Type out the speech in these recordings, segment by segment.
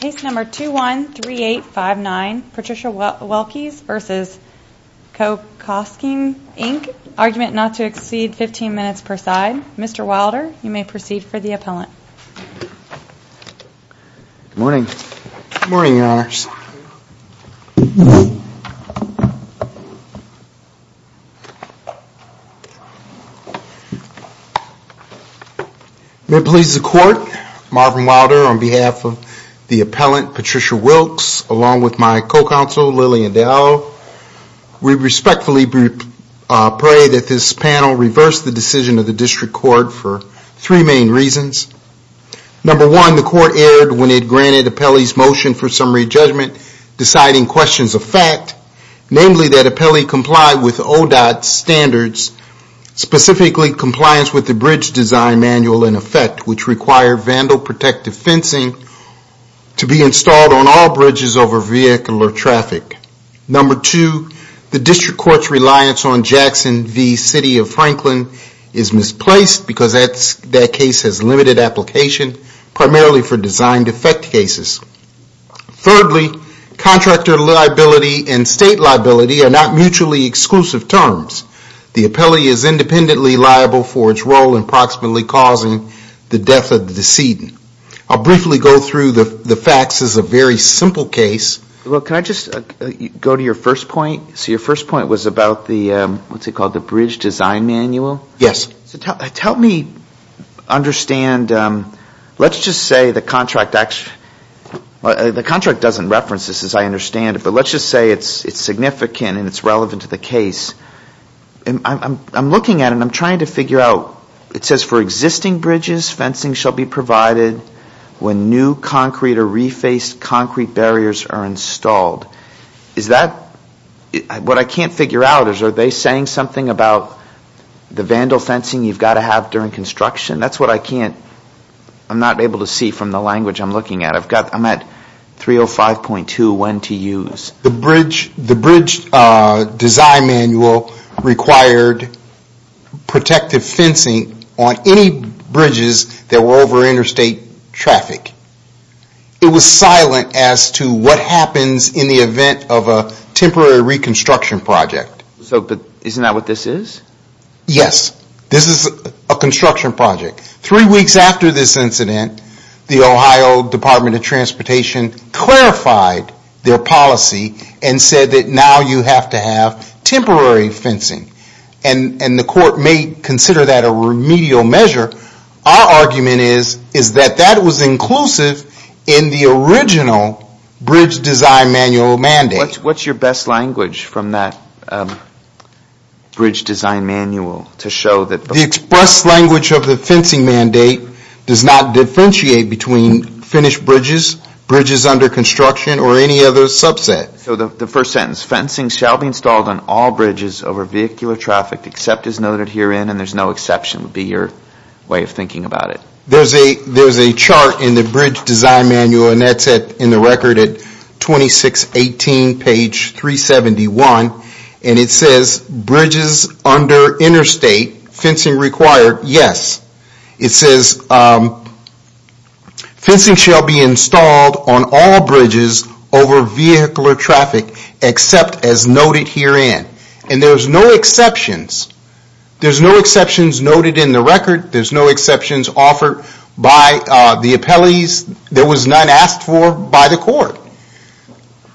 Case number 213859, Patricia Wilkes v. Kokosing Inc. Argument not to exceed 15 minutes per side. Mr. Wilder, you may proceed for the appellant. Good morning. Good morning, Your Honors. May it please the Court, Marvin Wilder on behalf of the appellant, Patricia Wilkes, along with my co-counsel, Lillian Dowell. We respectfully pray that this panel reverse the decision of the District Court for three main reasons. Number one, the Court erred when it granted Appellee's motion for summary judgment deciding questions of fact, namely that Appellee complied with ODOT standards, specifically compliance with the Bridge Design Manual in effect, which require vandal protective fencing to be installed on all bridges over vehicle or traffic. Number two, the District Court's reliance on Jackson v. City of Franklin is misplaced because that case has limited application, primarily for design defect cases. Thirdly, contractor liability and state liability are not mutually exclusive terms. The appellee is independently liable for its role in approximately causing the death of the decedent. I'll briefly go through the facts as a very simple case. Well, can I just go to your first point? So tell me, understand, let's just say the contract doesn't reference this as I understand it, but let's just say it's significant and it's relevant to the case. I'm looking at it and I'm trying to figure out, it says for existing bridges, fencing shall be provided when new concrete or refaced concrete barriers are installed. What I can't figure out is, are they saying something about the vandal protective fencing? You've got to have vandal fencing during construction? That's what I can't, I'm not able to see from the language I'm looking at. I'm at 305.2, when to use. The bridge design manual required protective fencing on any bridges that were over interstate traffic. It was silent as to what happens in the event of a temporary reconstruction project. So isn't that what this is? Yes. This is a construction project. Three weeks after this incident, the Ohio Department of Transportation clarified their policy and said that now you have to have temporary fencing. And the court may consider that a remedial measure. Our argument is that that was inclusive in the original bridge design manual mandate. What's your best language from that bridge design manual to show that the express language of the fencing mandate does not differentiate between finished bridges, bridges under construction, or any other subset? So the first sentence, fencing shall be installed on all bridges over vehicular traffic except as noted herein and there's no exception would be your way of thinking about it. There's a chart in the bridge design manual and that's in the record at 2618 page 371 and it says bridges under interstate fencing required, yes. It says fencing shall be installed on all bridges over vehicular traffic except as noted herein. And there's no exceptions. There's no exceptions noted in the record. There's no exceptions offered by the appellees. There was none asked for by the court.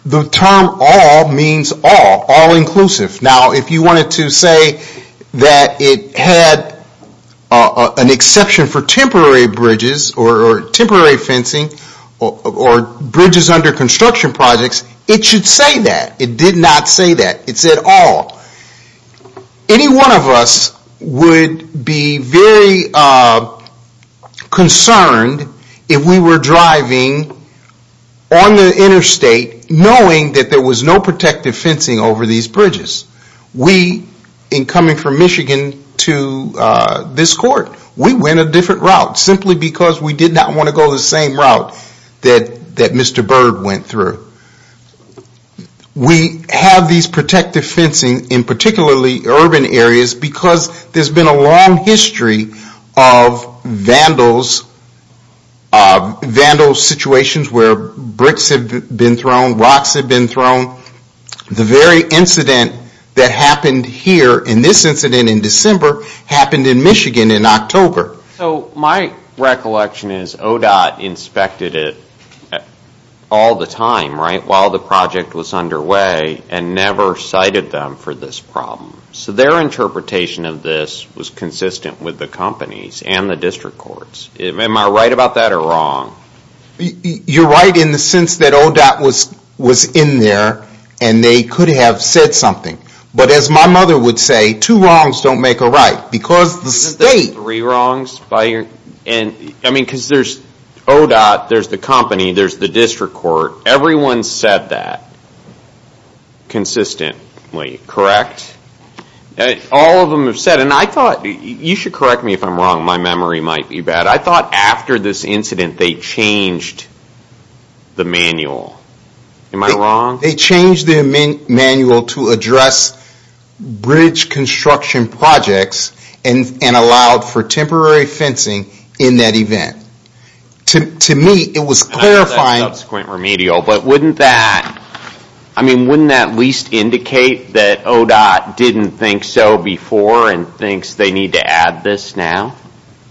The term all means all, all inclusive. Now if you wanted to say that it had an exception for temporary bridges or temporary fencing or bridges under construction projects, it should say that. It did not say that. It said all. Any one of us would be very concerned if we were driving on the interstate knowing that there was no protective fencing over these bridges. We, in coming from Michigan to this court, we went a different route simply because we did not want to go the same route that Mr. Byrd went through. We have these protective fencing in particularly urban areas because there's been a long history of vandals, vandal situations where bricks have been thrown, rocks have been thrown. The very incident that happened here in this incident in December happened in Michigan in October. So my recollection is ODOT inspected it all the time, right, while the project was underway and never cited them for this problem. So their interpretation of this was consistent with the company's and the district court's. Am I right about that or wrong? You're right in the sense that ODOT was in there and they could have said something. But as my mother would say, two wrongs don't make a right. Because the state... Because there's ODOT, there's the company, there's the district court. Everyone said that consistently, correct? All of them have said, and I thought, you should correct me if I'm wrong, my memory might be bad. I thought after this incident they changed the manual. Am I wrong? They changed the manual to address bridge construction projects and allowed for temporary fencing in that event. To me it was clarifying... That's a subsequent remedial, but wouldn't that at least indicate that ODOT didn't think so before and thinks they need to add this now?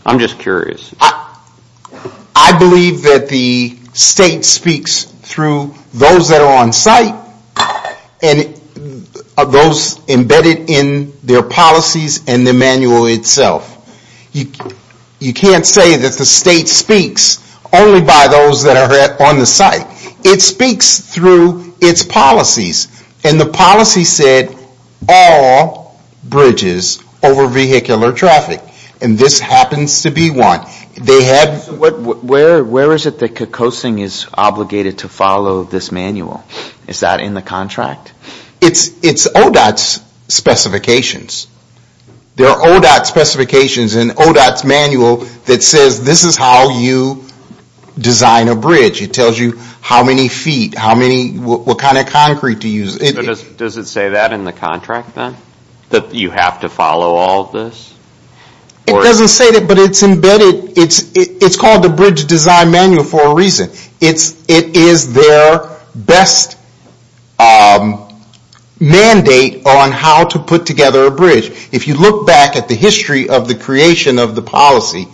I'm just curious. I believe that the state speaks through those that are on site and those embedded in their policies and the manual itself. You can't say that the state speaks only by those that are on the site. It speaks through its policies and the policy said all bridges over vehicular traffic. And this happens to be one. Where is it that COCOSING is obligated to follow this manual? Is that in the contract? It's ODOT's specifications. There are ODOT specifications in ODOT's manual that says this is how you design a bridge. It tells you how many feet, what kind of concrete to use. Does it say that in the contract then? That you have to follow all of this? It doesn't say that, but it's called the bridge design manual for a reason. It is their best mandate on how to put together a bridge. If you look back at the history of the creation of the policy,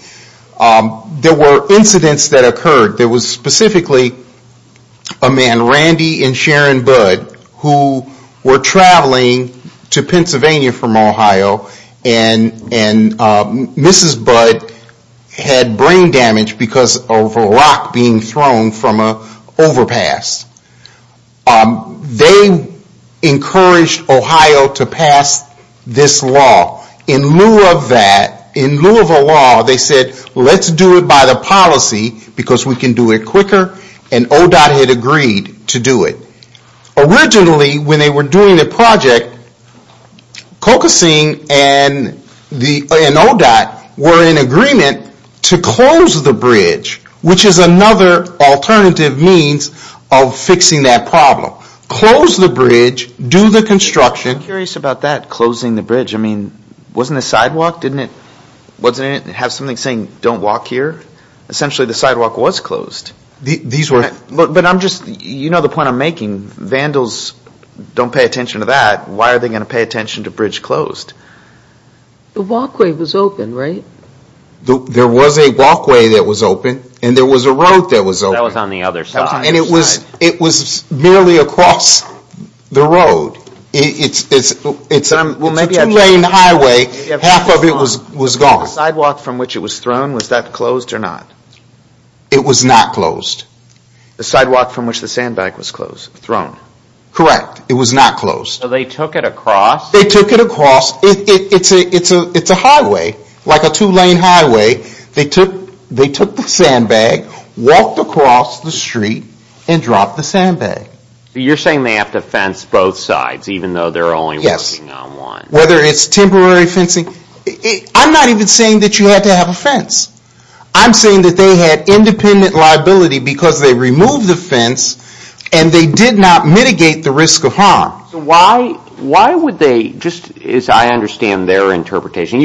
there were incidents that occurred. There was specifically a man, Randy and Sharon Budd, who were traveling to Pennsylvania from Ohio and Mrs. Budd had brain damage because of a rock being thrown from an overpass. They encouraged Ohio to pass this law. In lieu of that, in lieu of a law, they said let's do it by the policy because we can do it quicker and ODOT had agreed to do it. Originally when they were doing the project, COCOSING and ODOT were in agreement to close the bridge, which is another alternative means of fixing that problem. Close the bridge, do the construction. I'm curious about that, closing the bridge. Wasn't the sidewalk, didn't it have something saying don't walk here? Essentially the sidewalk was closed. You know the point I'm making. Vandals don't pay attention to that. Why are they going to pay attention to bridge closed? The walkway was open, right? There was a walkway that was open and there was a road that was open. And it was merely across the road. It's a two lane highway, half of it was gone. The sidewalk from which it was thrown, was that closed or not? It was not closed. It's a highway, like a two lane highway. They took the sandbag, walked across the street and dropped the sandbag. You're saying they have to fence both sides, even though they're only working on one? Yes, whether it's temporary fencing. I'm not even saying that you have to have a fence. I'm saying that they had independent liability because they removed the fence and they did not mitigate the risk of harm. Why would they, just as I understand their interpretation.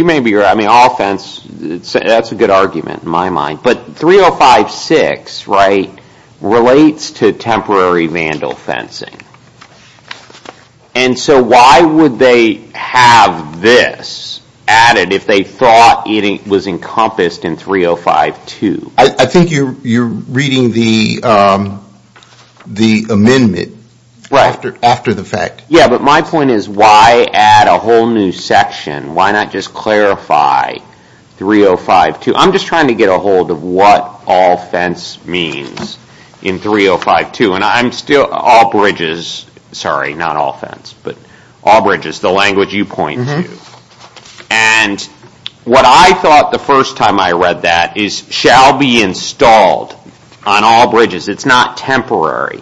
All fence, that's a good argument in my mind. But 3056 relates to temporary vandal fencing. Why would they have this added if they thought it was encompassed in 3052? I think you're reading the amendment after the fact. Yeah, but my point is why add a whole new section? Why not just clarify 3052? I'm just trying to get a hold of what all fence means in 3052. And I'm still, all bridges, sorry not all fence, but all bridges, the language you point to. And what I thought the first time I read that is shall be installed on all bridges. It's not temporary.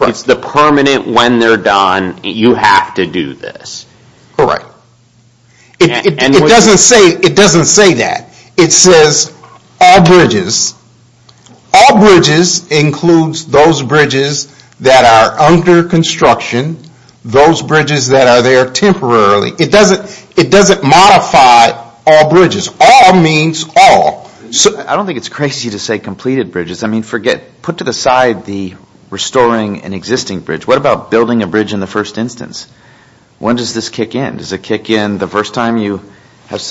It's the permanent when they're done, you have to do this. Correct. It doesn't say that. It says all bridges. All bridges includes those bridges that are under construction, those bridges that are there temporarily. It doesn't modify all bridges. All means all. I don't think it's crazy to say completed bridges. Put to the side the restoring an existing bridge. What about building a bridge in the first instance? When does this kick in? Does it kick in the first time you have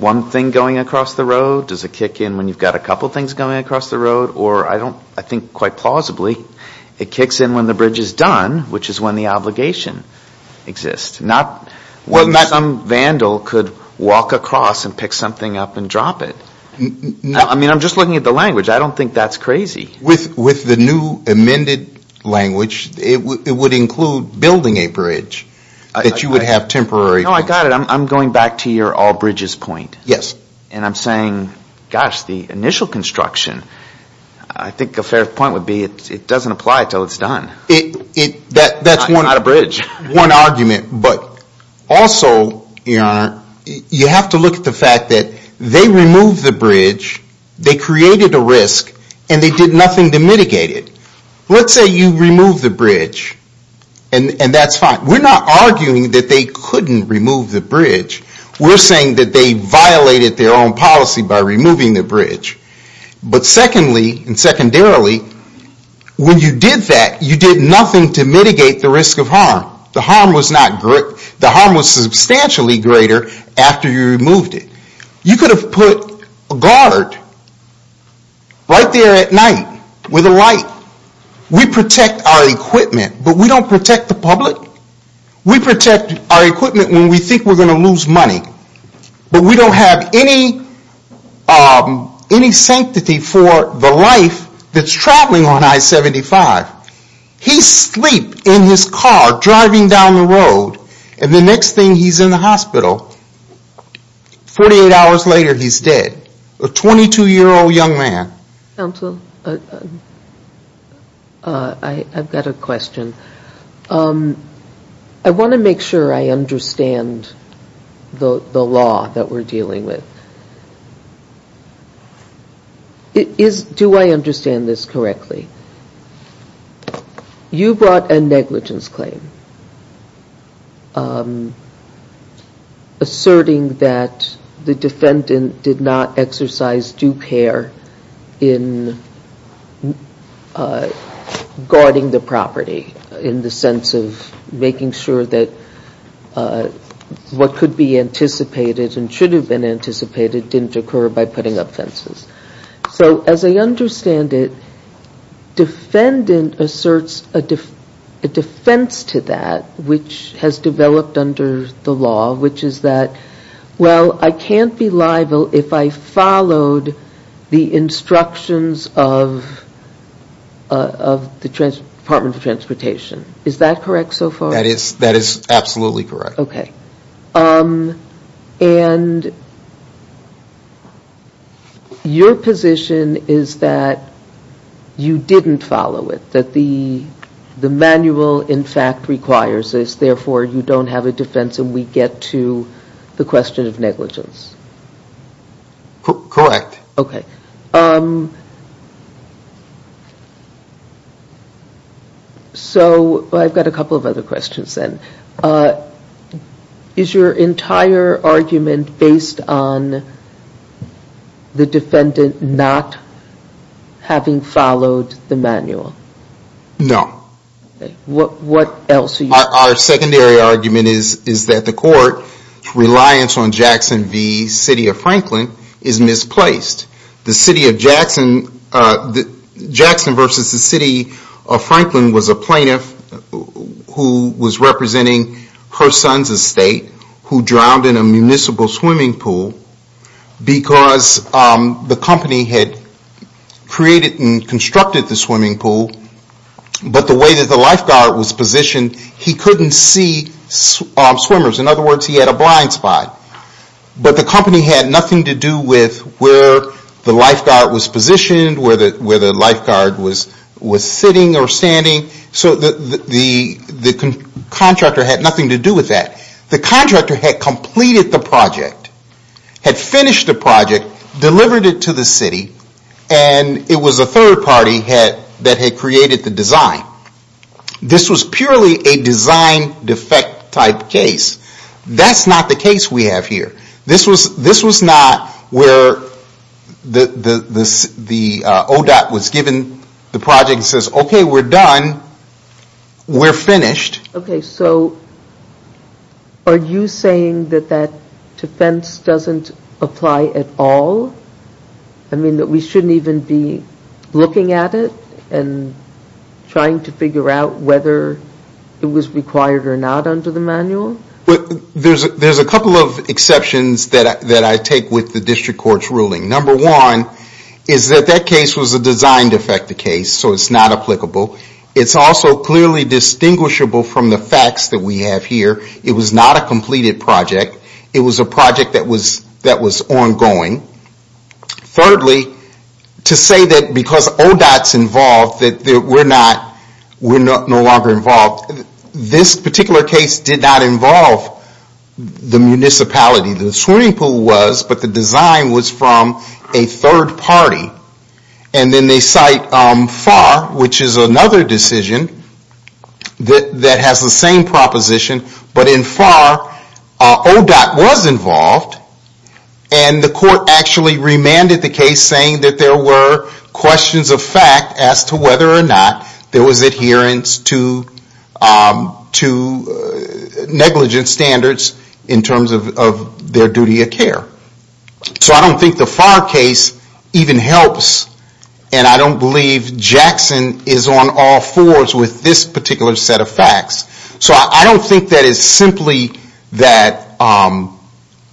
one thing going across the road? Does it kick in when you've got a couple things going across the road? Or I think quite plausibly it kicks in when the bridge is done, which is when the obligation exists. Not when some vandal could walk across and pick something up and drop it. I'm just looking at the language. I don't think that's crazy. With the new amended language, it would include building a bridge that you would have temporary. I got it. I'm going back to your all bridges point. The initial construction, I think a fair point would be it doesn't apply until it's done. Not a bridge. You have to look at the fact that they removed the bridge, they created a risk, and they did nothing to mitigate it. Let's say you remove the bridge, and that's fine. We're not arguing that they couldn't remove the bridge. We're saying that they violated their own policy by removing the bridge. But secondly, and secondarily, when you did that, you did nothing to mitigate the risk of harm. The harm was substantially greater after you removed it. You could have put a guard right there at night with a light. We protect our equipment, but we don't protect the public. We protect our equipment when we think we're going to lose money. But we don't have any sanctity for the life that's traveling on I-75. He's asleep in his car driving down the road, and the next thing he's in the hospital, 48 hours later he's dead. A 22-year-old young man. Counsel, I've got a question. I want to make sure I understand the law that we're dealing with. Do I understand this correctly? You brought a negligence claim. Asserting that the defendant did not exercise due care in guarding the property in the sense of making sure that what could be anticipated and should have been anticipated didn't occur by putting up fences. As I understand it, defendant asserts a defense to that which has developed under the law, which is that, well, I can't be liable if I followed the instructions of the Department of Transportation. Is that correct so far? That is absolutely correct. And your position is that you didn't follow it? That the manual in fact requires this, therefore you don't have a defense and we get to the question of negligence? Correct. Okay. So I've got a couple of other questions then. Is your entire argument based on the defendant not having followed the manual? No. Our secondary argument is that the court's reliance on Jackson v. City of Franklin is misplaced. Jackson v. City of Franklin was a plaintiff who was representing her son's estate who drowned in a municipal swimming pool because the company had created and constructed the swimming pool, but the water was too deep. And the way that the lifeguard was positioned, he couldn't see swimmers. In other words, he had a blind spot. But the company had nothing to do with where the lifeguard was positioned, where the lifeguard was sitting or standing. So the contractor had nothing to do with that. The contractor had completed the project, had finished the project, delivered it to the city, and it was a third party that had created the design. This was purely a design defect type case. That's not the case we have here. This was not where the ODOT was given the project and says, okay, we're done, we're finished. Are you saying that that defense doesn't apply at all? I mean, that we shouldn't even be looking at it and trying to figure out whether it was required or not under the manual? There's a couple of exceptions that I take with the district court's ruling. Number one is that that case was a design defect case, so it's not applicable. It's also clearly distinguishable from the facts that we have here. It was not a completed project. It was a project that was ongoing. Thirdly, to say that because ODOT's involved that we're no longer involved, this particular case did not involve the municipality. The swimming pool was, but the design was from a third party. And then they cite FAR, which is another decision that has the same proposition, but in FAR, ODOT was involved, and the court actually remanded the case saying that there were questions of fact as to whether or not there was adherence to negligence standards in terms of their duty of care. So I don't think the FAR case even helps, and I don't believe Jackson is on all fours with this particular set of facts. So I don't think that it's simply that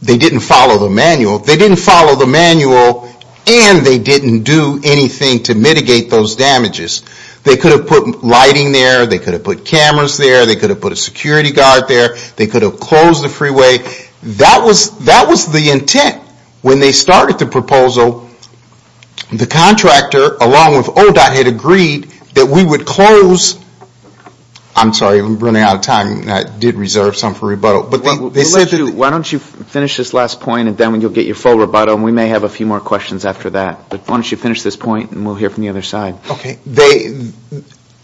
they didn't follow the manual. They didn't follow the manual, and they didn't do anything to mitigate those damages. They could have put lighting there, they could have put cameras there, they could have put a security guard there, they could have closed the freeway. That was the intent when they started the proposal. The contractor, along with ODOT, had agreed that we would close. I'm sorry, I'm running out of time. I did reserve some for rebuttal. Why don't you finish this last point, and then you'll get your full rebuttal, and we may have a few more questions after that. But why don't you finish this point, and we'll hear from the other side.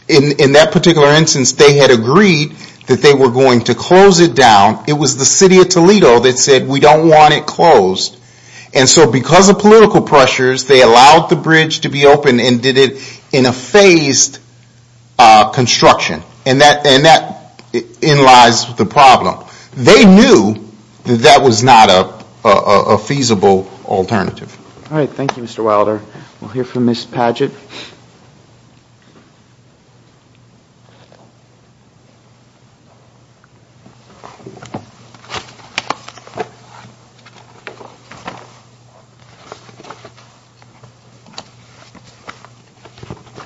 In that particular instance, they had agreed that they were going to close it down. It was the city of Toledo that said, we don't want it closed. And so because of political pressures, they allowed the bridge to be opened and did it in a phased construction. And that in lies the problem. They knew that that was not a feasible alternative. Thank you, Mr. Wilder. We'll hear from Ms. Padgett.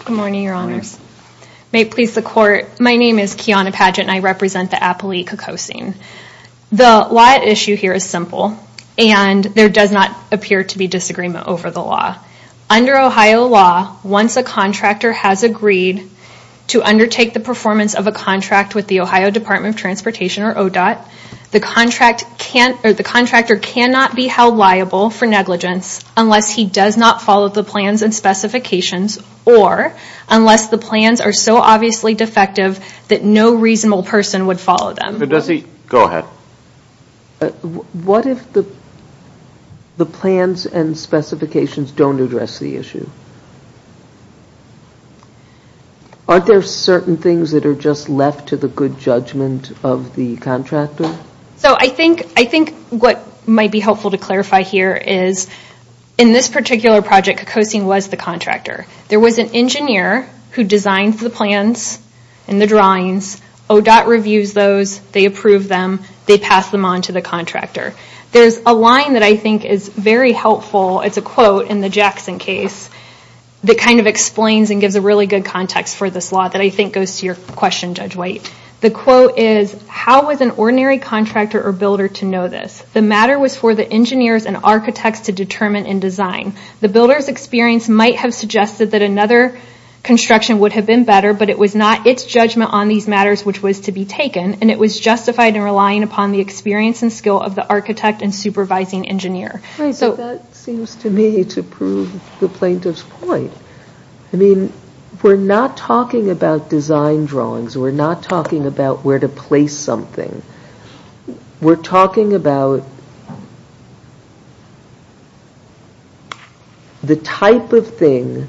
Good morning, Your Honors. May it please the Court, my name is Kiana Padgett, and I represent the Appalachia Coasting. The law at issue here is simple, and there does not appear to be disagreement over the law. Under Ohio law, once a contractor has agreed to undertake the performance of a contract with the Ohio Department of Transportation, or ODOT, the contractor cannot be held liable for negligence unless he does not follow the plans and specifications, or unless the plans are so obviously defective that no reasonable person would follow them. What if the plans and specifications don't address the issue? Aren't there certain things that are just left to the good judgment of the contractor? I think what might be helpful to clarify here is, in this particular project, Coasting was the contractor. There was an engineer who designed the plans and the drawings. ODOT reviews those, they approve them, they pass them on to the contractor. There's a line that I think is very helpful, it's a quote in the Jackson case, that kind of explains and gives a really good context for this law that I think goes to your question, Judge White. The quote is, how was an ordinary contractor or builder to know this? The matter was for the engineers and architects to determine and design. The builder's experience might have suggested that another construction would have been better, but it was not its judgment on these matters which was to be taken, and it was justified in relying upon the experience and skill of the architect and supervising engineer. That seems to me to prove the plaintiff's point. We're not talking about design drawings, we're not talking about where to place something. We're talking about the type of thing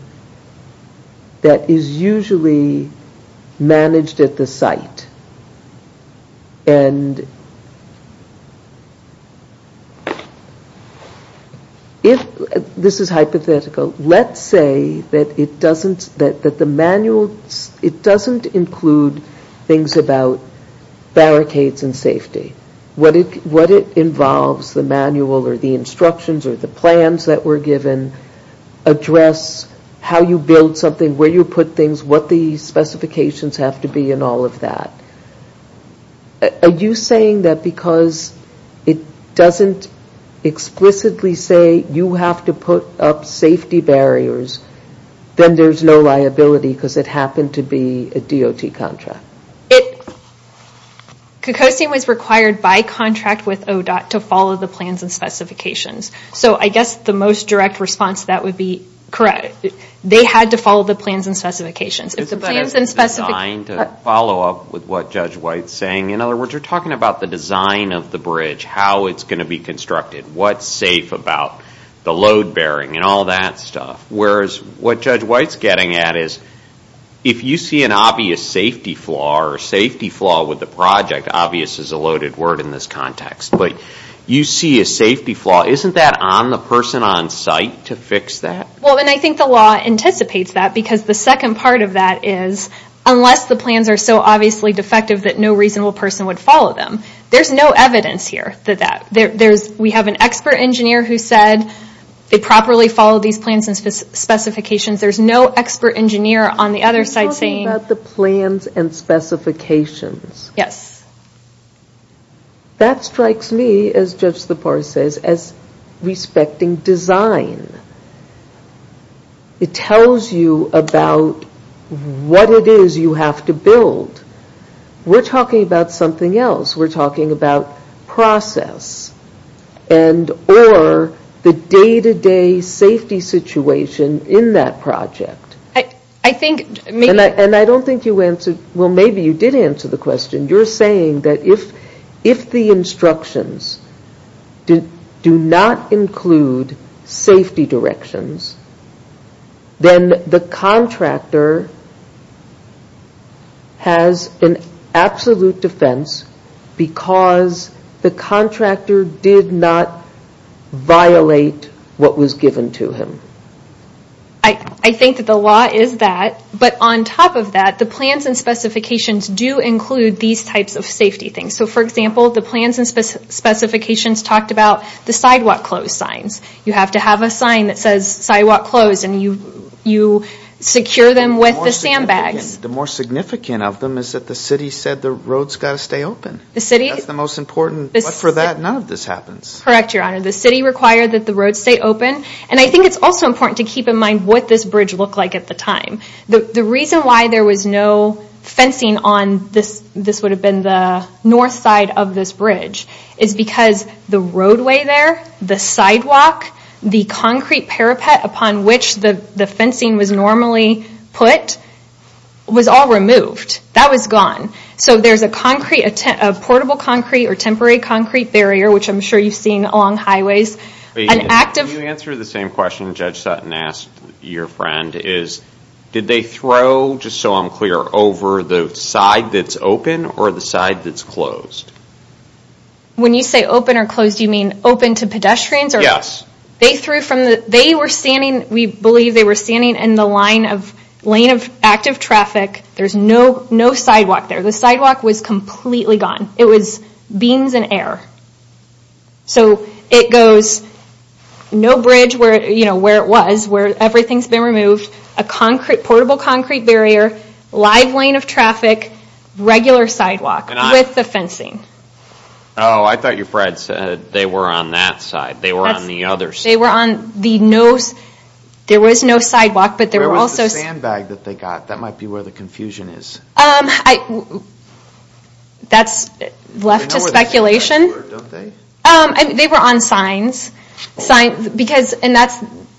that is usually managed at the site. If this is hypothetical, let's say that it doesn't include things about barricades and safety, what it involves, the manual or the instructions or the plans that were given, address how you build something, where you put things, what the specifications have to be and all of that. Are you saying that because it doesn't explicitly say you have to put up safety barriers, then there's no liability because it happened to be a DOT contract? Cocosin was required by contract with ODOT to follow the plans and specifications. I guess the most direct response to that would be, correct, they had to follow the plans and specifications. It's about the design to follow up with what Judge White's saying. In other words, you're talking about the design of the bridge, how it's going to be constructed, what's safe about the load bearing and all that stuff. Whereas what Judge White's getting at is, if you see an obvious safety flaw or safety flaw with the project, obvious is a loaded word in this context, but you see a safety flaw. Isn't that on the person on site to fix that? I think the law anticipates that because the second part of that is, unless the plans are so obviously defective that no reasonable person would follow them. There's no evidence here for that. We have an expert engineer who said, they properly followed these plans and specifications. There's no expert engineer on the other site saying... You're talking about the plans and specifications. That strikes me, as Judge Zipar says, as respecting design. It tells you about what it is you have to build. We're talking about something else. We're talking about process. Or the day-to-day safety situation in that project. Maybe you did answer the question. You're saying that if the instructions do not include safety directions, then the contractor has an absolute defense because the contractor did not violate what was given to him. I think that the law is that, but on top of that, the plans and specifications do include these types of safety things. For example, the plans and specifications talked about the sidewalk close signs. You have to have a sign that says sidewalk close and you secure them with the sandbags. The more significant of them is that the city said the roads got to stay open. That's the most important. But for that, none of this happens. Correct, Your Honor. The city required that the roads stay open. I think it's also important to keep in mind what this bridge looked like at the time. The reason why there was no fencing on the north side of this bridge is because the roadway there, the sidewalk, the concrete parapet upon which the fencing was normally put, was all removed. That was gone. So there's a portable concrete or temporary concrete barrier, which I'm sure you've seen along highways. Can you answer the same question Judge Sutton asked your friend? Did they throw, just so I'm clear, over the side that's open or the side that's closed? When you say open or closed, do you mean open to pedestrians? Yes. We believe they were standing in the lane of active traffic. There's no sidewalk there. The sidewalk was completely gone. It was beams and air. So it goes no bridge where it was, where everything's been removed, a portable concrete barrier, live lane of traffic, regular sidewalk with the fencing. Oh, I thought your friend said they were on that side. They were on the other side. There was no sidewalk. Where was the sandbag that they got? That might be where the confusion is. That's left to speculation. They were on signs. And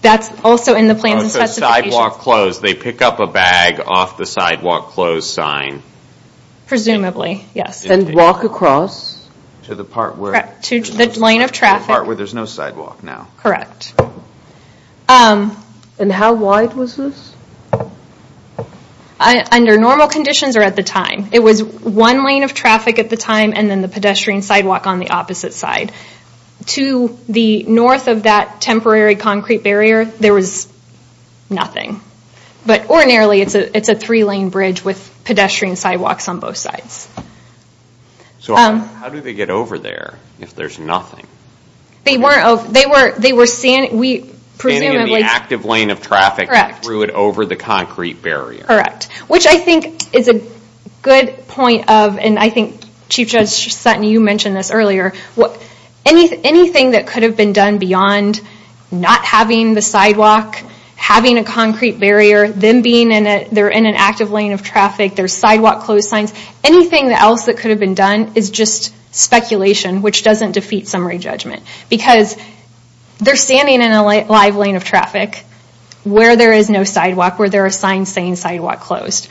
that's also in the plans and specifications. When you say sidewalk closed, they pick up a bag off the sidewalk closed sign. Presumably, yes. And walk across to the part where there's no sidewalk now. Correct. And how wide was this? Under normal conditions or at the time, it was one lane of traffic at the time and then the pedestrian sidewalk on the opposite side. To the north of that temporary concrete barrier, there was nothing. But ordinarily, it's a three lane bridge with pedestrian sidewalks on both sides. So how do they get over there if there's nothing? They were standing in the active lane of traffic and threw it over the concrete barrier. Correct. Which I think is a good point of, and I think Chief Judge Sutton, you mentioned this earlier, anything that could have been done beyond not having the sidewalk, having a concrete barrier, them being in an active lane of traffic, there's sidewalk closed signs, anything else that could have been done is just speculation, which doesn't defeat summary judgment. Because they're standing in a live lane of traffic where there is no sidewalk, where there are signs saying sidewalk closed.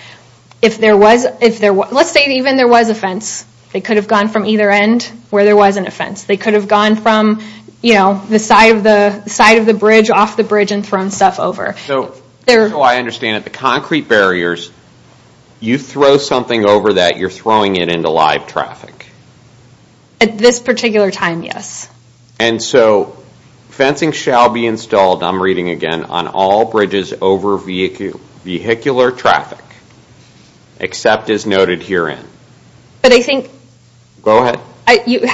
Let's say even there was a fence. They could have gone from either end where there was a fence. They could have gone from the side of the bridge, off the bridge, and thrown stuff over. So I understand that the concrete barriers, you throw something over that, you're throwing it into live traffic. At this particular time, yes. And so, fencing shall be installed, I'm reading again, on all bridges over vehicular traffic, except as noted herein. But I think... Go ahead. You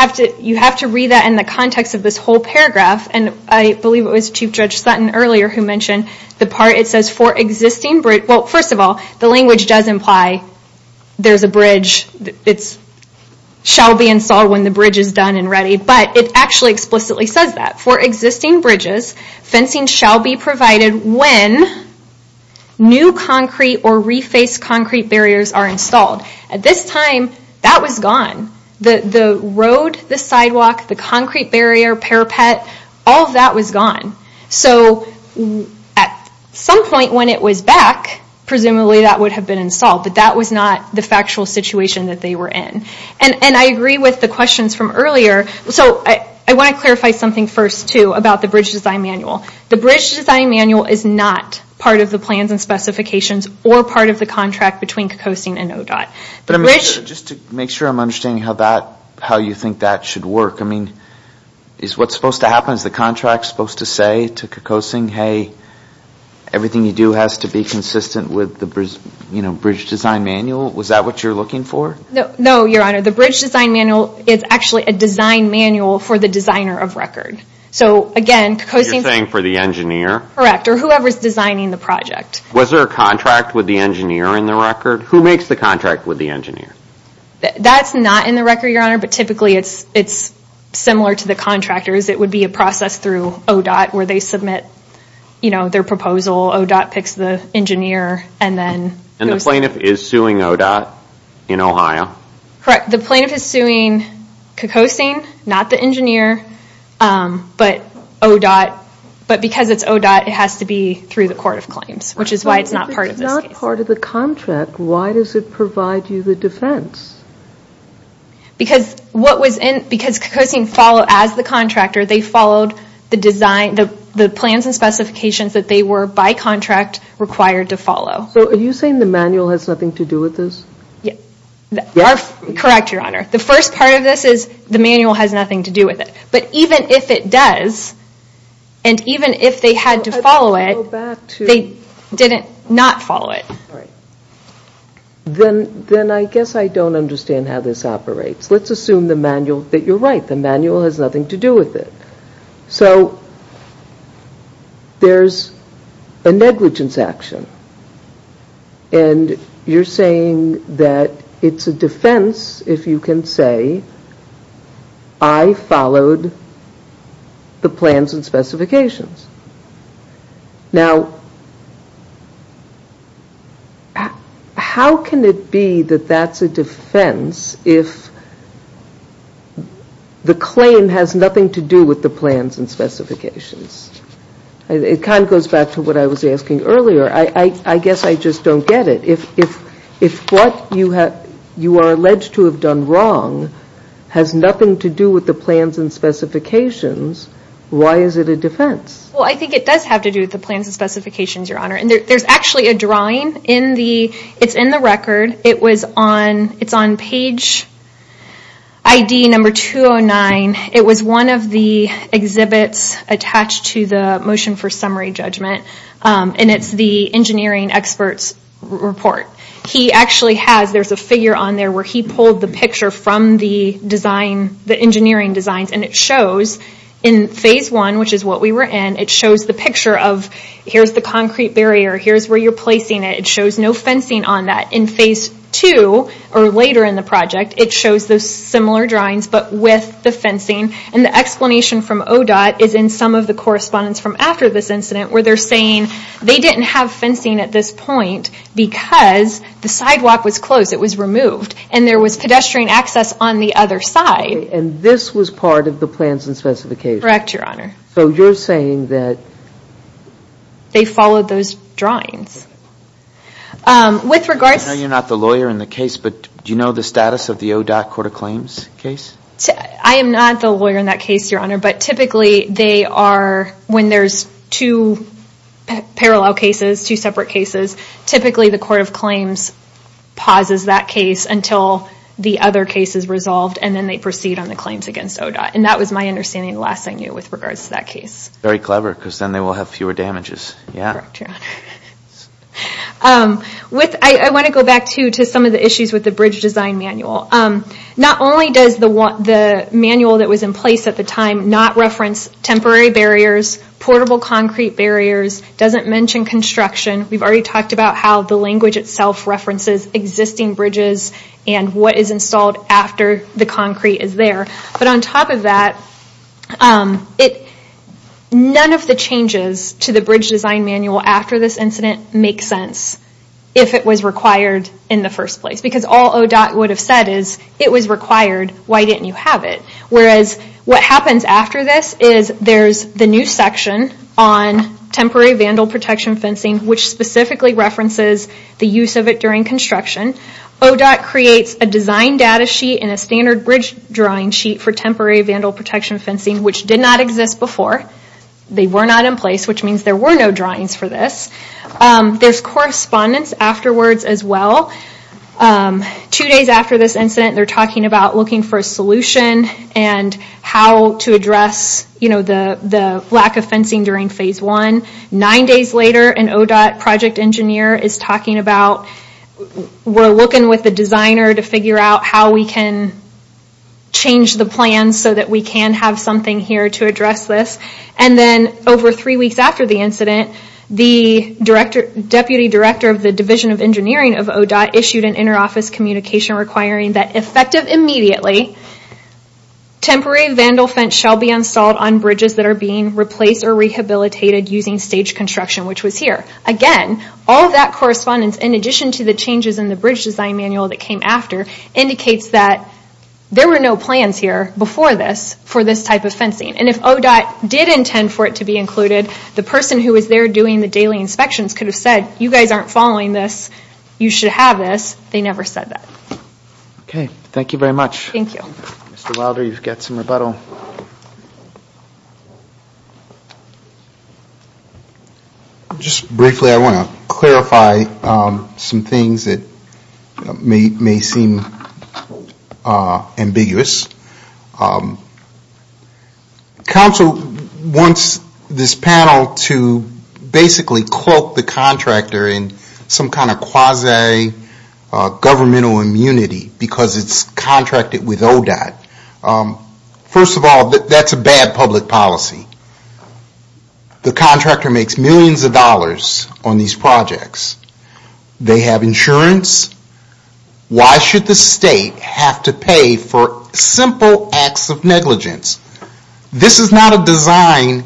have to read that in the context of this whole paragraph, and I believe it was Chief Judge Sutton earlier who mentioned the part, Well, first of all, the language does imply there's a bridge, it shall be installed when the bridge is done and ready. But it actually explicitly says that. For existing bridges, fencing shall be provided when new concrete or refaced concrete barriers are installed. At this time, that was gone. The road, the sidewalk, the concrete barrier, parapet, all of that was gone. So, at some point when it was back, presumably that would have been installed. But that was not the factual situation that they were in. And I agree with the questions from earlier. So, I want to clarify something first, too, about the bridge design manual. The bridge design manual is not part of the plans and specifications, or part of the contract between Cocosin and ODOT. Just to make sure I'm understanding how you think that should work. I mean, is what's supposed to happen, is the contract supposed to say to Cocosin, Hey, everything you do has to be consistent with the bridge design manual? Was that what you're looking for? No, Your Honor. The bridge design manual is actually a design manual for the designer of record. So, again, Cocosin You're saying for the engineer? Correct. Or whoever's designing the project. Was there a contract with the engineer in the record? Who makes the contract with the engineer? That's not in the record, Your Honor, but typically it's similar to the contractors. It would be a process through ODOT where they submit their proposal. ODOT picks the engineer and then And the plaintiff is suing ODOT in Ohio? Correct. The plaintiff is suing Cocosin, not the engineer, but ODOT. But because it's ODOT, it has to be through the court of claims, which is why it's not part of this case. But why does it provide you the defense? Because Cocosin followed, as the contractor, they followed the plans and specifications that they were, by contract, required to follow. So are you saying the manual has nothing to do with this? Correct, Your Honor. The first part of this is the manual has nothing to do with it. But even if it does, and even if they had to follow it, they did not follow it. Then I guess I don't understand how this operates. Let's assume the manual, that you're right, the manual has nothing to do with it. So there's a negligence action. And you're saying that it's a defense, if you can say, I followed the plans and specifications. Now, how can it be that that's a defense if the claim has nothing to do with the plans and specifications? It kind of goes back to what I was asking earlier. I guess I just don't get it. If what you are alleged to have done wrong has nothing to do with the plans and specifications, why is it a defense? I think it does have to do with the plans and specifications, Your Honor. There's actually a drawing. It's in the record. It's on page ID number 209. It was one of the exhibits attached to the motion for summary judgment. And it's the engineering experts report. There's a figure on there where he pulled the picture from the engineering designs. And it shows in phase one, which is what we were in, it shows the picture of here's the concrete barrier. Here's where you're placing it. It shows no fencing on that. In phase two, or later in the project, it shows those similar drawings, but with the fencing. And the explanation from ODOT is in some of the correspondence from after this incident, where they're saying they didn't have fencing at this point because the sidewalk was closed. It was removed. And there was pedestrian access on the other side. And this was part of the plans and specifications. Correct, Your Honor. So you're saying that they followed those drawings. I know you're not the lawyer in the case, but do you know the status of the ODOT court of claims case? I am not the lawyer in that case, Your Honor. But typically they are, when there's two parallel cases, two separate cases, typically the court of claims pauses that case until the other case is resolved, and then they proceed on the claims against ODOT. And that was my understanding last I knew with regards to that case. Very clever, because then they will have fewer damages. Correct, Your Honor. I want to go back, too, to some of the issues with the bridge design manual. Not only does the manual that was in place at the time not reference temporary barriers, portable concrete barriers, doesn't mention construction. We've already talked about how the language itself references existing bridges and what is installed after the concrete is there. But on top of that, none of the changes to the bridge design manual after this incident make sense if it was required in the first place. Because all ODOT would have said is, it was required, why didn't you have it? Whereas what happens after this is there's the new section on temporary vandal protection fencing, which specifically references the use of it during construction. ODOT creates a design data sheet and a standard bridge drawing sheet for temporary vandal protection fencing, which did not exist before. They were not in place, which means there were no drawings for this. There's correspondence afterwards as well. Two days after this incident, they're talking about looking for a solution and how to address the lack of fencing during Phase 1. Nine days later, an ODOT project engineer is talking about, we're looking with the designer to figure out how we can change the plan so that we can have something here to address this. And then over three weeks after the incident, the Deputy Director of the Division of Engineering of ODOT issued an inter-office communication requiring that effective immediately, temporary vandal fence shall be installed on bridges that are being replaced or rehabilitated using stage construction, which was here. Again, all of that correspondence, in addition to the changes in the bridge design manual that came after, indicates that there were no plans here before this for this type of fencing. And if ODOT did intend for it to be included, the person who was there doing the daily inspections could have said, you guys aren't following this, you should have this. They never said that. Okay, thank you very much. Thank you. Mr. Wilder, you've got some rebuttal. Just briefly, I want to clarify some things that may seem ambiguous. Council wants this panel to basically cloak the contractor in some kind of quasi-governmental immunity because it's contracted with ODOT. First of all, that's a bad public policy. The contractor makes millions of dollars on these projects. They have insurance. Why should the state have to pay for simple acts of negligence? This is not a design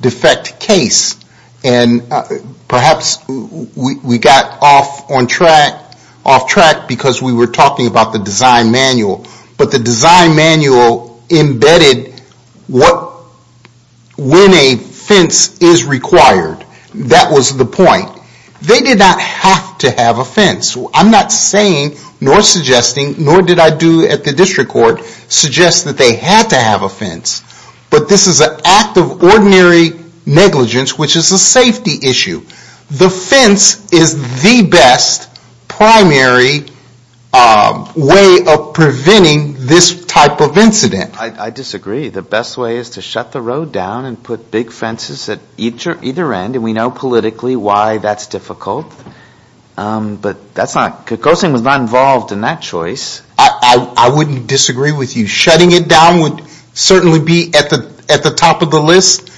defect case. And perhaps we got off track because we were talking about the design manual. But the design manual embedded when a fence is required. That was the point. They did not have to have a fence. I'm not saying nor suggesting, nor did I do at the district court, suggest that they had to have a fence. But this is an act of ordinary negligence, which is a safety issue. The fence is the best primary way of preventing this type of incident. I disagree. The best way is to shut the road down and put big fences at either end. And we know politically why that's difficult. But that's not, Cocoasin was not involved in that choice. I wouldn't disagree with you. Shutting it down would certainly be at the top of the list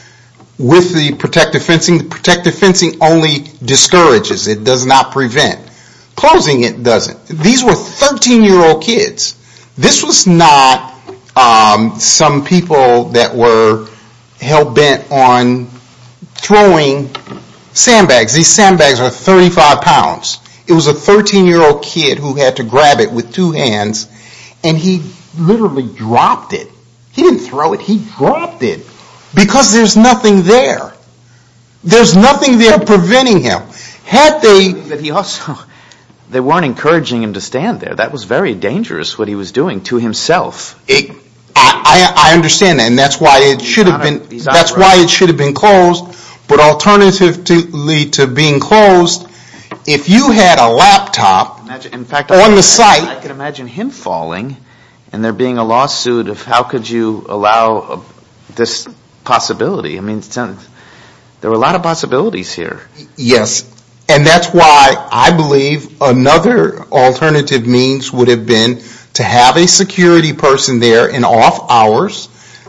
with the protective fencing. Protective fencing only discourages. It does not prevent. Closing it doesn't. These were 13-year-old kids. This was not some people that were hell-bent on throwing sandbags. These sandbags are 35 pounds. It was a 13-year-old kid who had to grab it with two hands. And he literally dropped it. He didn't throw it. He dropped it. Because there's nothing there. There's nothing there preventing him. They weren't encouraging him to stand there. That was very dangerous what he was doing to himself. I understand that. And that's why it should have been closed. But alternatively to being closed, if you had a laptop on the site. I can imagine him falling and there being a lawsuit of how could you allow this possibility. There were a lot of possibilities here. Yes. And that's why I believe another alternative means would have been to have a security person there in off hours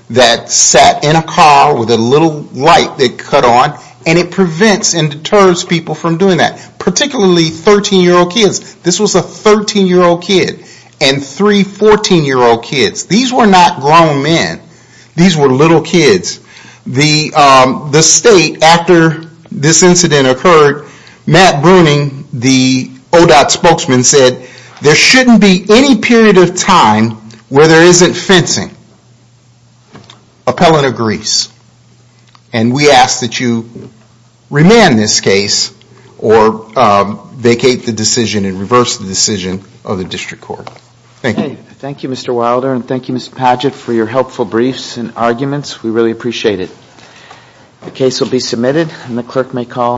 that sat in a car with a little light that cut on. And it prevents and deters people from doing that. Particularly 13-year-old kids. This was a 13-year-old kid. And three 14-year-old kids. These were not grown men. These were little kids. The state, after this incident occurred, Matt Bruning, the ODOT spokesman said, there shouldn't be any period of time where there isn't fencing. Appellant agrees. And we ask that you remand this case or vacate the decision and reverse the decision of the district court. Thank you. Thank you, Mr. Wilder. And thank you, Mr. Padgett, for your helpful briefs and arguments. We really appreciate it. The case will be submitted and the clerk may call.